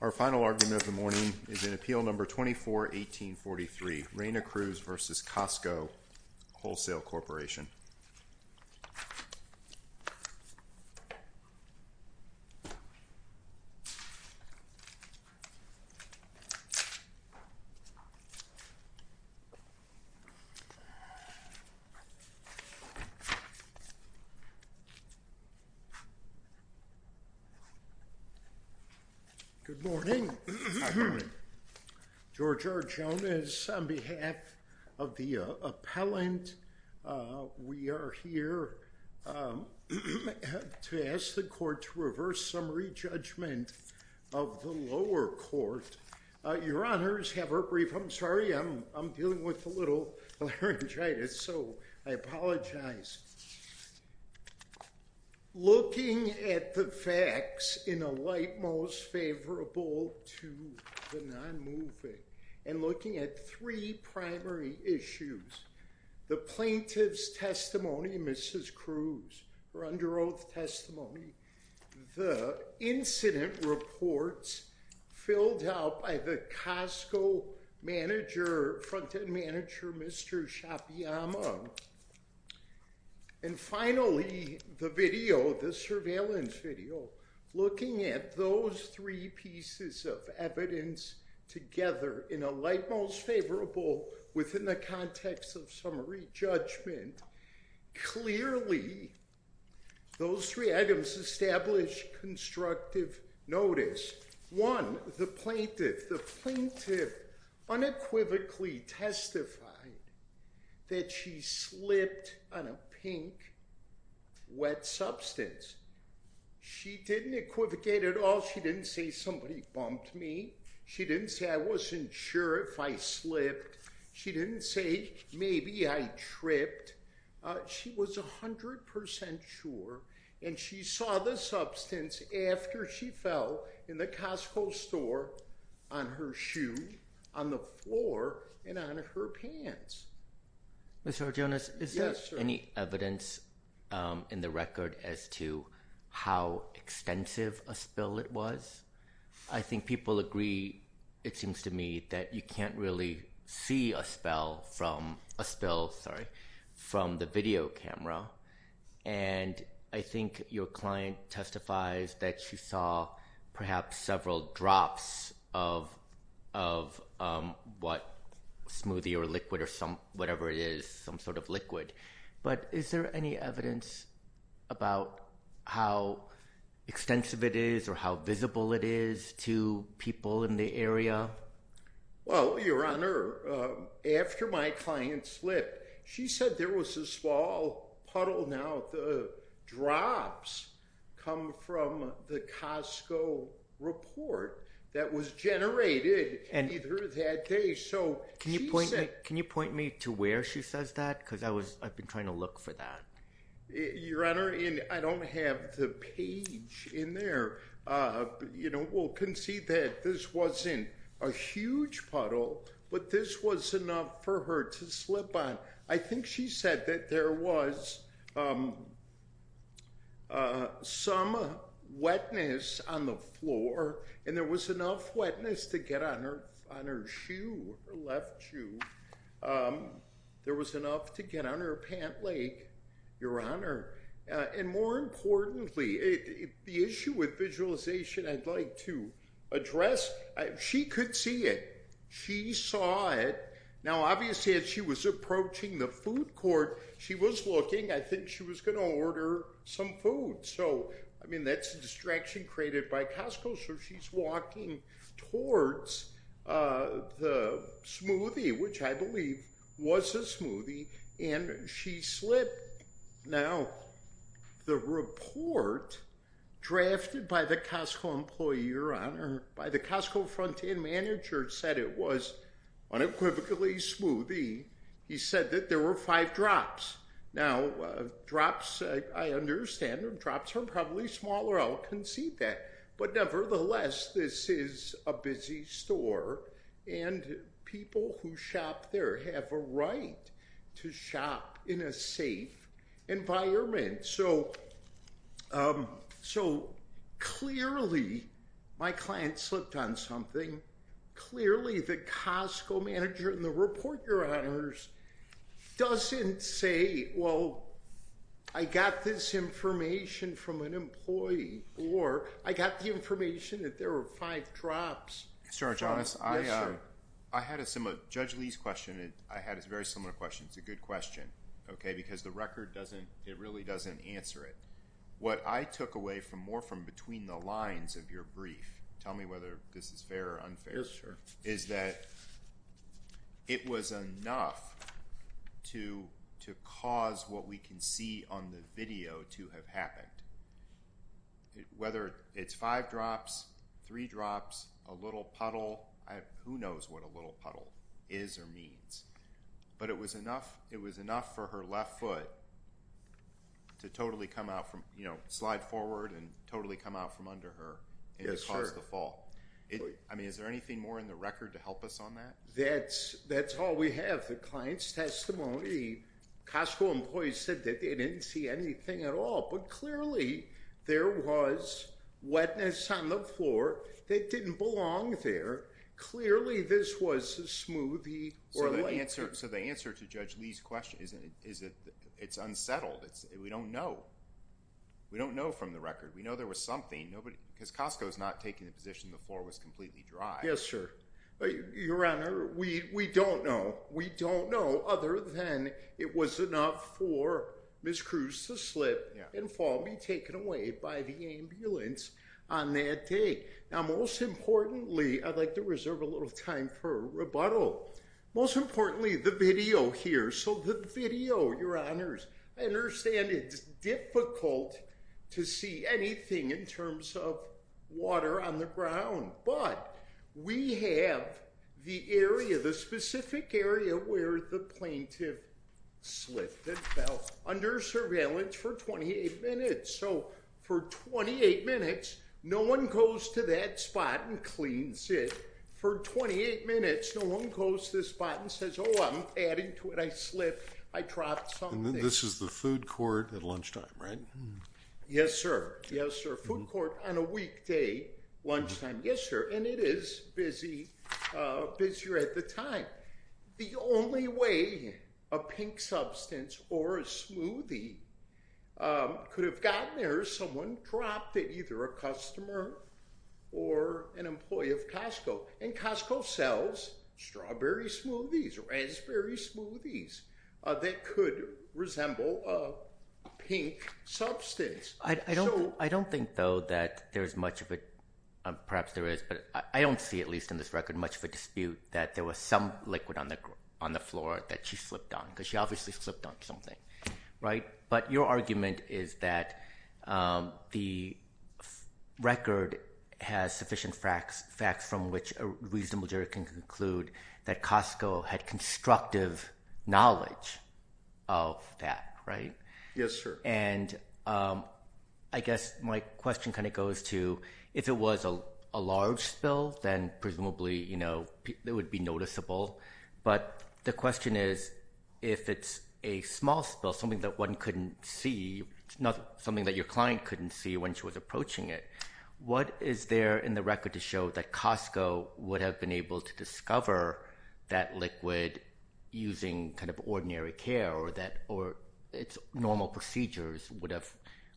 Our final argument of the morning is in Appeal No. 24-1843, Reyna Cruz v. Costco Wholesale Corporation. Good morning. George R. Jones on behalf of the appellant. We are here to ask the court to reverse summary judgment of the lower court. Your Honors, have a brief I'm sorry I'm dealing with a little laryngitis so I apologize. Looking at the facts in a light most favorable to the non-moving and looking at three primary issues. The plaintiff's testimony, Mrs. Cruz, her under oath testimony, the incident reports filled out by the Costco manager, front-end manager Mr. Shapiama, and finally the video, the surveillance video, looking at those three pieces of evidence together in a light most favorable within the context of summary judgment. Clearly those three items establish constructive notice. One, the plaintiff, the plaintiff unequivocally testified that she slipped on a pink wet substance. She didn't equivocate at all. She didn't say somebody bumped me. She didn't say I wasn't sure if I slipped. She didn't say maybe I tripped. She was a hundred percent sure and she saw the substance after she fell in the Costco store on her shoe, on the floor, and on her pants. Mr. Arjonis, is there any evidence in the record as to how extensive a spill it was? I think people agree, it seems to me, that you can't really see a spell from a spill, sorry, from the video camera and I think your client testifies that she saw perhaps several drops of what smoothie or liquid or some whatever it is, some sort of liquid, but is there any evidence about how extensive it is or how visible it is to people in the area? Well, Your Honor, after my client slipped, she said there was a small puddle. Now the drops come from the Costco report that was generated either that day. Can you point me to where she says that because I was I've been trying to look for that. Your Honor, I don't have the page in there. You know, we'll concede that this wasn't a huge puddle, but this was enough for her to slip on. I think she said that there was some wetness on the floor and there was enough wetness to get on her on her shoe, her left shoe. There was enough to get on her pant leg, Your Honor. And more importantly, the issue with visualization I'd like to address, she could see it. She saw it. Now obviously, as she was approaching the food court, she was looking. I think she was going to order some food. So, I mean, that's a distraction created by Costco. So she's walking towards the smoothie, which I believe was a smoothie, and she slipped. Now the report drafted by the Costco employee, Your Honor, by the Costco front-end manager said it was unequivocally smoothie. He said that there were five drops. Now drops, I understand them. Drops are probably smaller. I'll admit that this is a busy store, and people who shop there have a right to shop in a safe environment. So clearly my client slipped on something. Clearly the Costco manager in the report, Your Honors, doesn't say, well, I got this information from an employee, or I got the information that there were five drops. Mr. Arjonas, I had a similar... Judge Lee's question, I had a very similar question. It's a good question, okay, because the record doesn't... it really doesn't answer it. What I took away from more from between the lines of your brief, tell me whether this is fair or unfair, is that it was enough to cause what we can see on the video to have happened. Whether it's five drops, three drops, a little puddle, who knows what a little puddle is or means, but it was enough, it was enough for her left foot to totally come out from, you know, slide forward and totally come out from under her and cause the fall. I mean, is there anything more in the record to help us on that? That's all we have. The client's testimony, Costco employees said that they didn't see anything at all, but clearly there was wetness on the floor that didn't belong there. Clearly, this was a smoothie or... So the answer to Judge Lee's question is that it's unsettled. We don't know. We don't know from the record. We know there was something. Nobody... because Costco is not taking the position the floor was completely dry. Yes, sir. Your Honor, we don't know. We don't know other than it was enough for Ms. Cruz to slip and fall and be taken away by the ambulance on that day. Now, most importantly, I'd like to reserve a little time for rebuttal. Most importantly, the video here. So the video, Your Honors, I understand it's difficult to see anything in terms of water on the ground, but we have the area, the specific area where the plaintiff slipped and fell under surveillance for 28 minutes. So for 28 minutes, no one goes to that spot and cleans it. For 28 minutes, no one goes to the spot and says, oh, I'm adding to it. I slipped. I dropped something. This is the food court at lunchtime, right? Yes, sir. Yes, sir. Food court on a weekday, lunchtime. Yes, sir. And it is busy, busier at the time. The only way a pink substance or a smoothie could have gotten there is someone dropped it, either a customer or an employee of Costco. And Costco sells strawberry smoothies or raspberry smoothies that could resemble a pink substance. I don't think, though, that there's much of it, perhaps there is, but I don't see, at least in this record, much of a dispute that there was some liquid on the floor that she slipped on because she obviously slipped on something, right? But your argument is that the record has sufficient facts from which a reasonable jury can conclude that Costco had constructive knowledge of that, right? Yes, sir. And I guess my question kind of goes to, if it was a large spill, then presumably, you know, it would be noticeable. But the question is, if it's a small spill, something that one couldn't see, something that your client couldn't see when she was approaching it, what is there in the record to show that Costco would have been able to discover that liquid using kind of ordinary care or that, or its normal procedures would have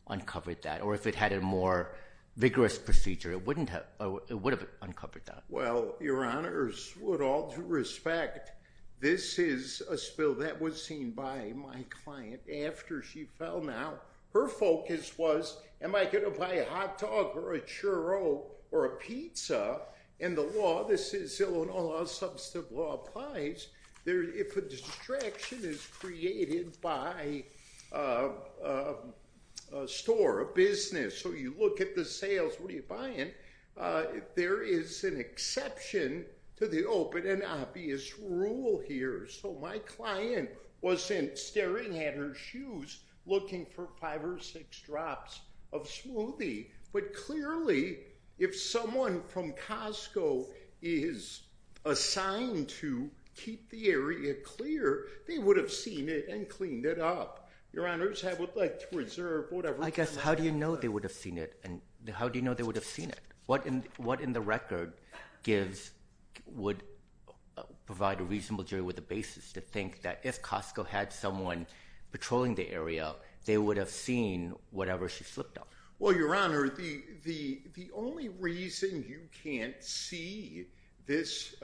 uncovered that? Or if it had a more vigorous procedure, it wouldn't have, it would have uncovered that? Well, Your Honors, with all due respect, this is a spill that was seen by my client after she fell. Now, her focus was, am I gonna buy a smoothie? Now, as substantive law applies, if a distraction is created by a store, a business, so you look at the sales, what are you buying? There is an exception to the open and obvious rule here. So my client wasn't staring at her shoes looking for five or six drops of smoothie. But clearly, if someone from Costco is assigned to keep the area clear, they would have seen it and cleaned it up. Your Honors, I would like to observe whatever... I guess, how do you know they would have seen it? And how do you know they would have seen it? What in, what in the record gives, would provide a reasonable jury with the basis to think that if Costco had someone patrolling the area, they would have seen whatever she flipped up? Well, Your Honor, the only reason you can't see this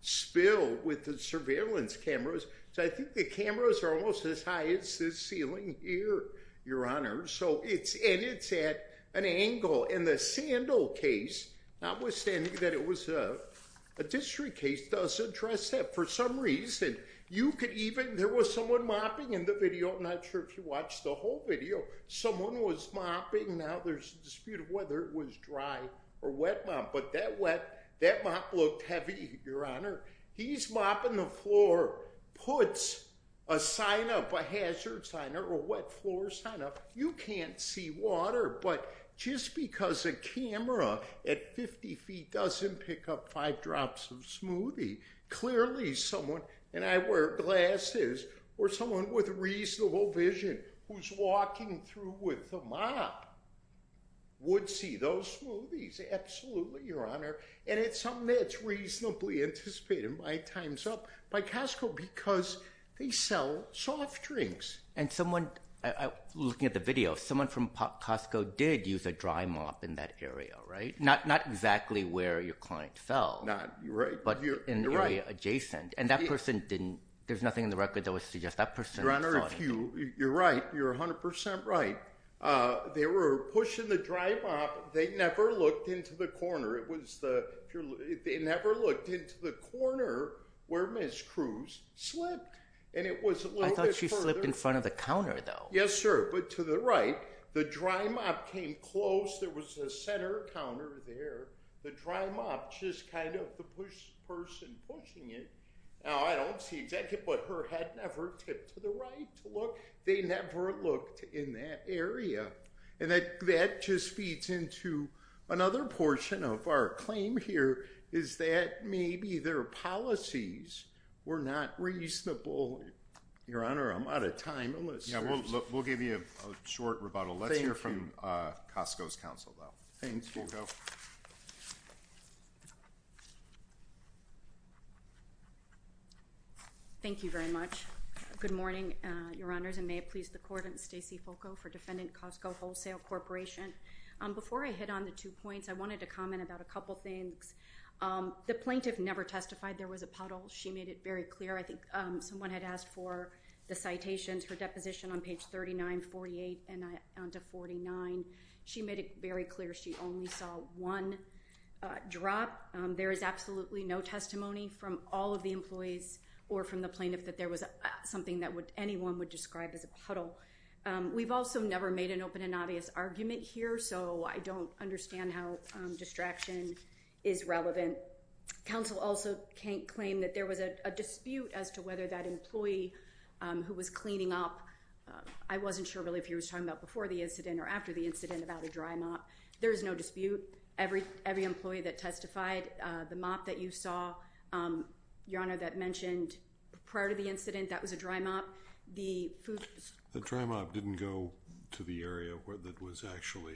spill with the surveillance cameras, so I think the cameras are almost as high as this ceiling here, Your Honor. So it's, and it's at an angle. And the sandal case, not withstanding that it was a district case, does address that. For some reason, you could even, there was someone mopping in the video, I'm not sure if you watched the whole video, someone was mopping. Now there's a dispute of whether it was dry or wet mop. But that wet, that mop looked heavy, Your Honor. He's mopping the floor, puts a sign up, a hazard sign up, a wet floor sign up. You can't see water. But just because a camera at 50 feet doesn't pick up five drops of smoothie, clearly someone, and I wear glasses, or someone with reasonable vision who's walking through with the mop would see those smoothies. Absolutely, Your Honor. And it's something that's reasonably anticipated by Time's Up, by Costco, because they sell soft drinks. And someone, looking at the video, someone from Costco did use a dry mop in that area, right? Not exactly where your client fell, but in the area adjacent. And that person didn't, there's nothing in the record that would suggest that person saw anything. Your Honor, if you, you're right, you're 100% right. They were pushing the dry mop, they never looked into the corner. It was the, they never looked into the corner where Ms. Cruz slipped. And it was a little bit further. I thought she slipped in front of the counter, though. Yes, sir. But to the right, the dry mop came close. There was a center counter there. The dry mop, just kind of the person pushing it. Now, I don't see exactly, but her head never tipped to the right to look. They never looked in that area. And that just feeds into another portion of our claim here, is that maybe their policies were not reasonable. Your Honor, I'm out of time. Yeah, we'll give you a short rebuttal. Let's hear from Costco's counsel. Thank you. Thank you very much. Good morning, Your Honors, and may it please the Court, I'm Stacey Foucault for Defendant Costco Wholesale Corporation. Before I hit on the two points, I wanted to comment about a couple things. The plaintiff never testified there was a puddle. She made it very clear. I think someone had asked for the citations for deposition on page 3948 and on to 49. She made it very clear she only saw one drop. There is absolutely no testimony from all of the employees or from the plaintiff that there was something that anyone would describe as a puddle. We've also never made an open and obvious argument here, so I don't understand how distraction is relevant. Counsel also can't claim that there was a dispute as to whether that employee who was cleaning up, I wasn't sure really if he was talking about before the incident or after the incident about a dry mop. There is no dispute. Every employee that testified, the mop that you saw, Your Honor, that mentioned prior to the incident, that was a dry mop. The dry mop didn't go to the area where that was actually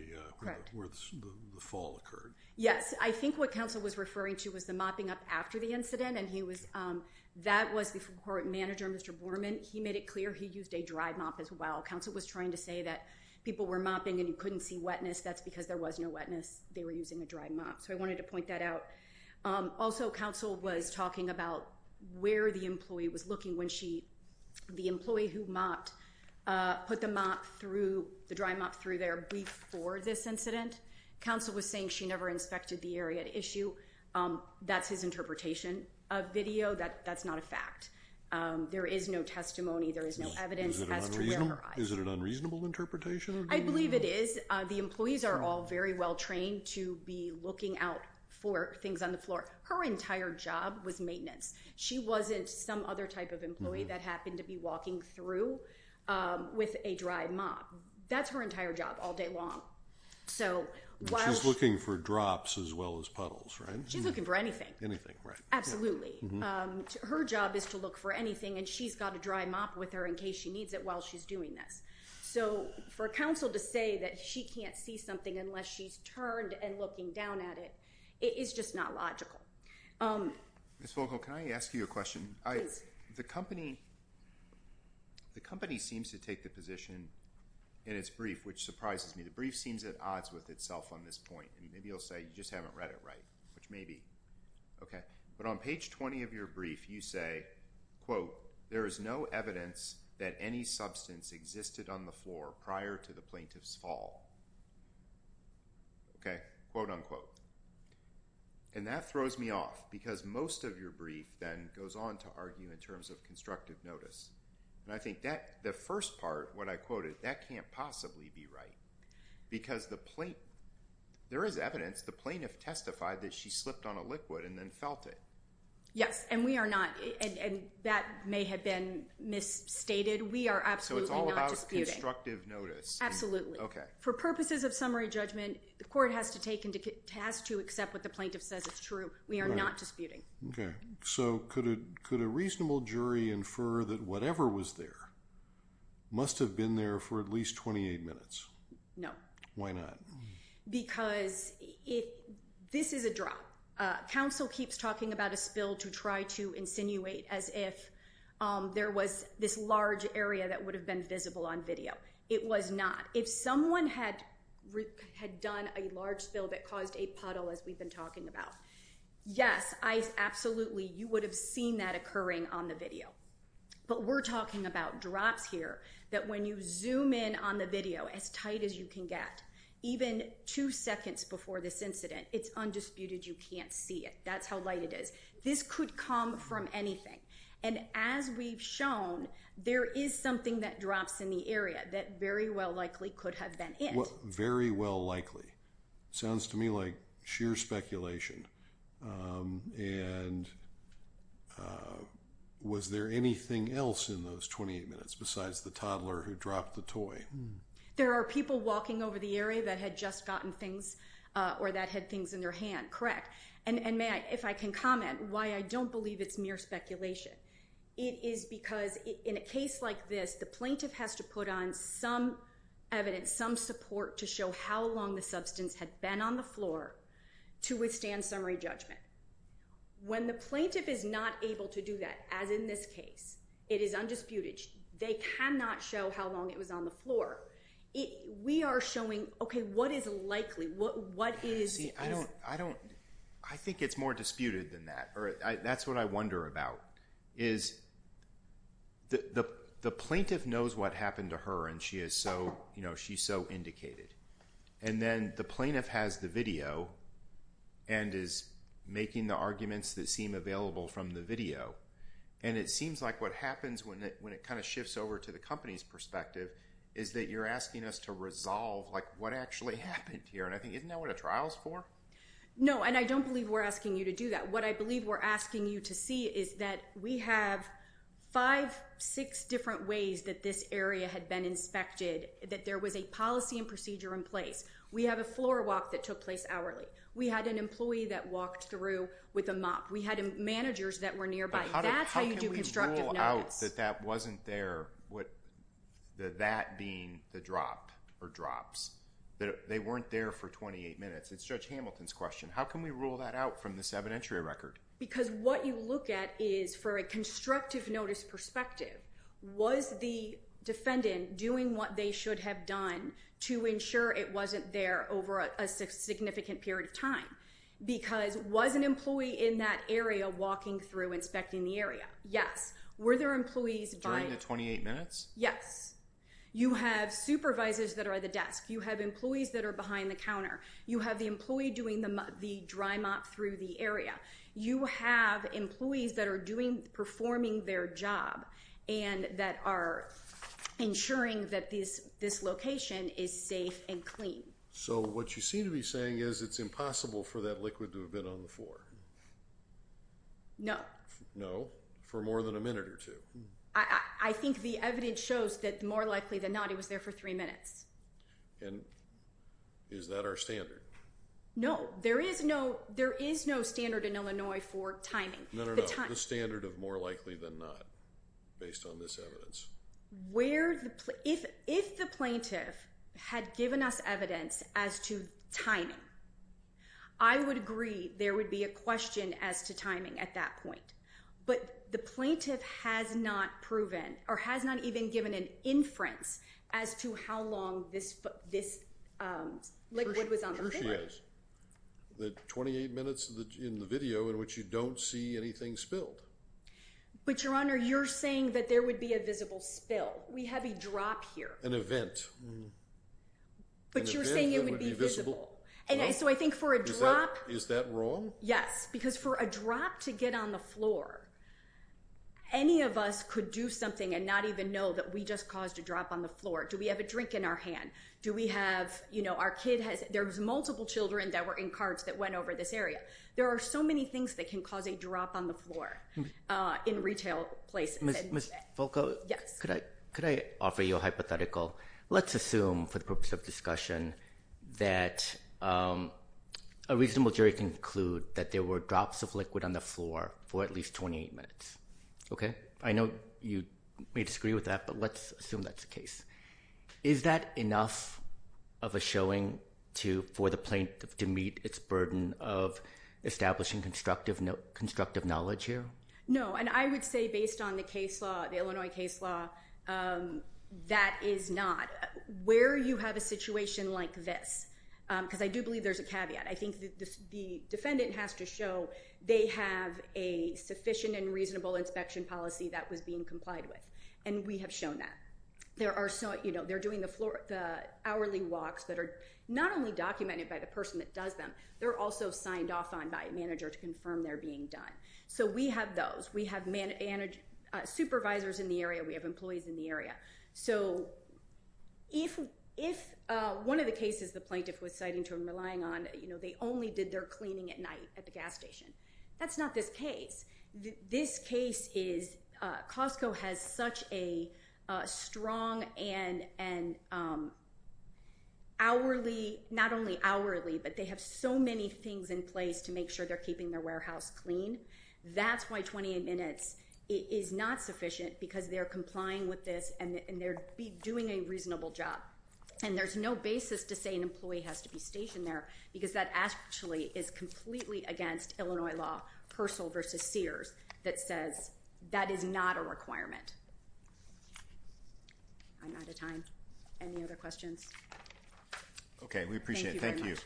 where the fall occurred. Yes, I think what counsel was referring to was the mopping up after the incident and that was the court manager, Mr. Borman, he made it clear he used a dry mop as well. Counsel was trying to say that people were mopping and you couldn't see wetness. That's because there was no wetness. They were using a dry mop, so I wanted to point that out. Also, counsel was talking about where the employee was looking when she, the employee who mopped, put the mop through, the dry mop through there before this incident. Counsel was saying she never inspected the area at issue. That's his interpretation of video. That's not a fact. There is no testimony. There is no evidence as to where her eyes were. Is it an unreasonable interpretation? I believe it is. The employees are all very well trained to be looking out for things on the floor. Her entire job was maintenance. She wasn't some other type of employee that happened to be walking through with a dry mop. That's her entire job all day long. She's looking for drops as well as puddles, right? She's looking for anything. Absolutely. Her job is to look for anything and she's got a dry mop with her in case she needs it while she's doing this. For counsel to say that she can't see something unless she's turned and looking down at it, it is just not logical. Ms. Vogel, can I ask you a question? The company seems to take the position in its brief, which surprises me. The brief seems at odds with itself on this point. Maybe you'll say you just haven't read it right, which maybe. But on page 20 of your brief, you say, quote, there is no evidence that any substance existed on the floor prior to the plaintiff's fall. Okay? Quote, unquote. And that throws me off because most of your brief then goes on to argue in terms of constructive notice. And I think that the first part, what I quoted, that can't possibly be right. Because the plaintiff, there is evidence, the plaintiff testified that she slipped on a liquid and then felt it. Yes, and we are not, and that may have been misstated. We are absolutely not disputing. So it's all about constructive notice. Absolutely. For purposes of summary judgment, the court has to accept what the plaintiff says is true. We are not disputing. So could a reasonable jury infer that whatever was there must have been there for at least 28 minutes? No. Why not? Because this is a drop. Counsel keeps talking about a spill to try to insinuate as if there was this large area that would have been visible on video. It was not. If someone had done a large spill that caused a puddle as we've been talking about, yes, I absolutely, you would have seen that occurring on the video. But we're talking about drops here that when you zoom in on the video as tight as you can get, even two seconds before this incident, it's undisputed you can't see it. That's how light it is. This could come from anything. And as we've known, there is something that drops in the area that very well likely could have been it. Very well likely. Sounds to me like sheer speculation. And was there anything else in those 28 minutes besides the toddler who dropped the toy? There are people walking over the area that had just gotten things or that had things in their hand. Correct. And if I can comment why I don't believe it's mere speculation, it is because in a case like this, the plaintiff has to put on some evidence, some support to show how long the substance had been on the floor to withstand summary judgment. When the plaintiff is not able to do that, as in this case, it is undisputed. They cannot show how long it was on the floor. We are showing, what is likely? I think it's more disputed than that. That's what I wonder about. The plaintiff knows what happened to her and she is so indicated. And then the plaintiff has the video and is making the arguments that seem available from the video. And it seems like what happens when it shifts over to the company's perspective is that you're asking us to resolve what actually happened here. And I think isn't that what a trial is for? No, and I don't believe we're asking you to do that. What I believe we're asking you to see is that we have five, six different ways that this area had been inspected, that there was a policy and procedure in place. We have a floor walk that took place hourly. We had an employee that walked through with a mop. We had managers that were nearby. That's how you do constructive notice. How can we rule out that that wasn't there? That being the drop or drops. They weren't there for 28 minutes. It's Judge Hamilton's question. How can we rule that out from this evidentiary record? Because what you look at is for a constructive notice perspective, was the defendant doing what they should have done to ensure it wasn't there over a significant period of time? Because was an employee in that area walking through inspecting the area? Yes. Were there employees during the 28 minutes? Yes. You have supervisors that are at the desk. You have employees that are behind the counter. You have the employee doing the dry mop through the area. You have employees that are performing their job and that are ensuring that this location is safe and clean. So what you seem to be saying is it's impossible for that liquid to have been on the floor? No. No? For more than a minute or two? I think the evidence shows that more likely than not it was there for three minutes. And is that our standard? No. There is no standard in Illinois for timing. No, no, no. The standard of more likely than not based on this evidence. If the plaintiff had given us evidence as to timing, I would agree there would be a question as to timing at that point. But the plaintiff has not proven or has not even given an inference as to how long this liquid was on the floor. Sure she has. The 28 minutes in the video in which you don't see anything spilled. But Your Honor, you're saying that there would be a visible spill. We have a drop here. An event. An event that would be visible. But you're saying it would be visible. And so I think for a drop... Is that wrong? Yes. Because for a drop to get on the floor, any of us could do something and not even know that we just caused a drop on the floor. Do we have a drink in our hand? Do we have, you know, our kid has... There was multiple children that were in carts that went over this area. There are so many things that can cause a drop on the floor in retail places. Ms. Volkow? Yes. Could I offer you a hypothetical? Let's assume for the purpose of discussion that a reasonable jury can conclude that there were drops of liquid on the floor for at least 28 minutes. Okay? I know you may disagree with that, but let's assume that's the case. Is that enough of a showing for the plaintiff to meet its burden of establishing constructive knowledge here? No. And I would say based on the case law, the Illinois case law, that is not. Where you have a situation like this... Because I do believe there's a caveat. I think the defendant has to show they have a sufficient and reasonable inspection policy that was being complied with. And we have shown that. They're doing the hourly walks that are not only documented by the person that does them, they're also signed off on by a manager to confirm they're being done. So we have those. We have supervisors in the area. We have employees in the area. So if one of the cases the plaintiff was citing to and relying on, they only did their cleaning at night at the gas station, that's not this case. This case is... Costco has such a strong and hourly... Not only hourly, but they have so many things in place to make sure they're keeping their warehouse clean. That's why 28 minutes is not sufficient because they're complying with this and they're doing a reasonable job. And there's no basis to say an employee has to be stationed there because that actually is completely against Illinois law, Persil v. Sears, that says that is not a requirement. I'm out of time. Any other questions? Okay. We appreciate it. Thank you.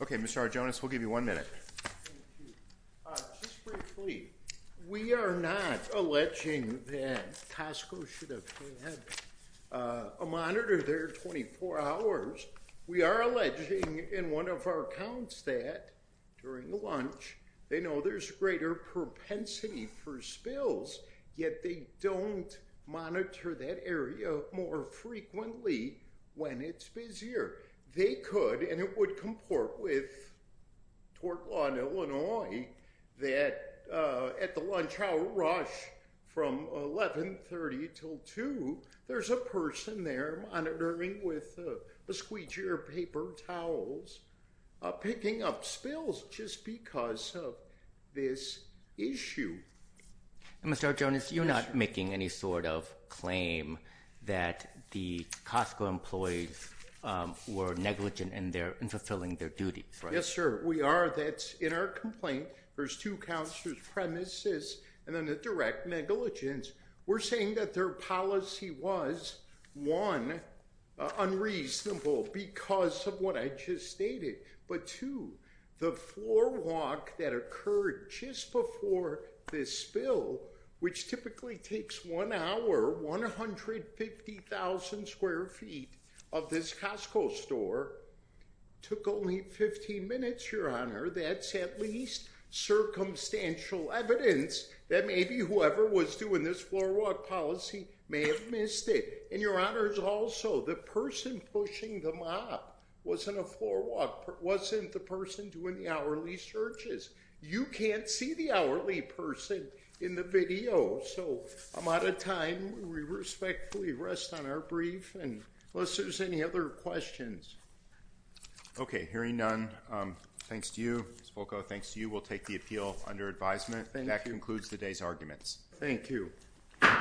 Okay, Mr. Arjonis, we'll give you one minute. Just briefly, we are not alleging that Costco should have had a monitor there 24 hours. We are alleging in one of our accounts that, during lunch, they know there's greater propensity for spills, yet they don't monitor that area more frequently when it's busier. They could, and it would comport with tort law in Illinois, that at the lunch hour rush from 11.30 until 2, there's a person there monitoring with a squeegee or paper towels, picking up spills just because of this issue. Mr. Arjonis, you're not making any sort of claim that the Costco employees were negligent in fulfilling their duties, right? Yes, sir. We are. That's in our complaint. There's two counts, there's premises, and then a direct negligence. We're saying that their policy was, one, unreasonable because of what I just stated, but two, the floor walk that occurred just before this spill, which typically takes one hour, 150,000 square feet of this Costco store, took only 15 minutes, Your Honor. That's at least circumstantial evidence that maybe whoever was doing this floor walk policy may have missed it. And Your Honors, also, the person pushing the mop wasn't a floor walk, wasn't the person doing the hourly searches. You can't see the hourly person in the video, so I'm out of time. We respectfully rest on our brief, unless there's any other questions. Okay. Hearing none, thanks to you, Ms. Volko, thanks to you, we'll take the appeal under advisement. That concludes today's arguments. Thank you. Thank you.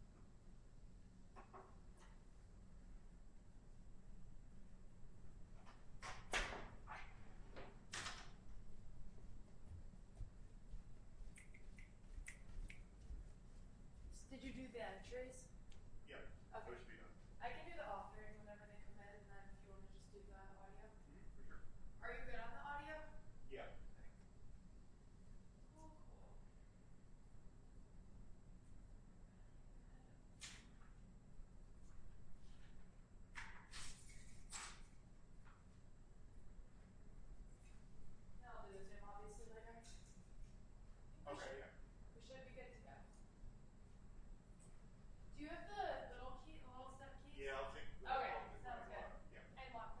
Thank you. Thank you. Thank you. Thank you. Thank you. Thank you. Thank you. Thank you. Thank you. Thank you. Thank you. Thank you. Did you do that? Are you good on the audio? Yeah. Okay. You should be good to go. Do you have the little key? Yeah, I'll take it. Okay. And lock this too? Yeah. Okay.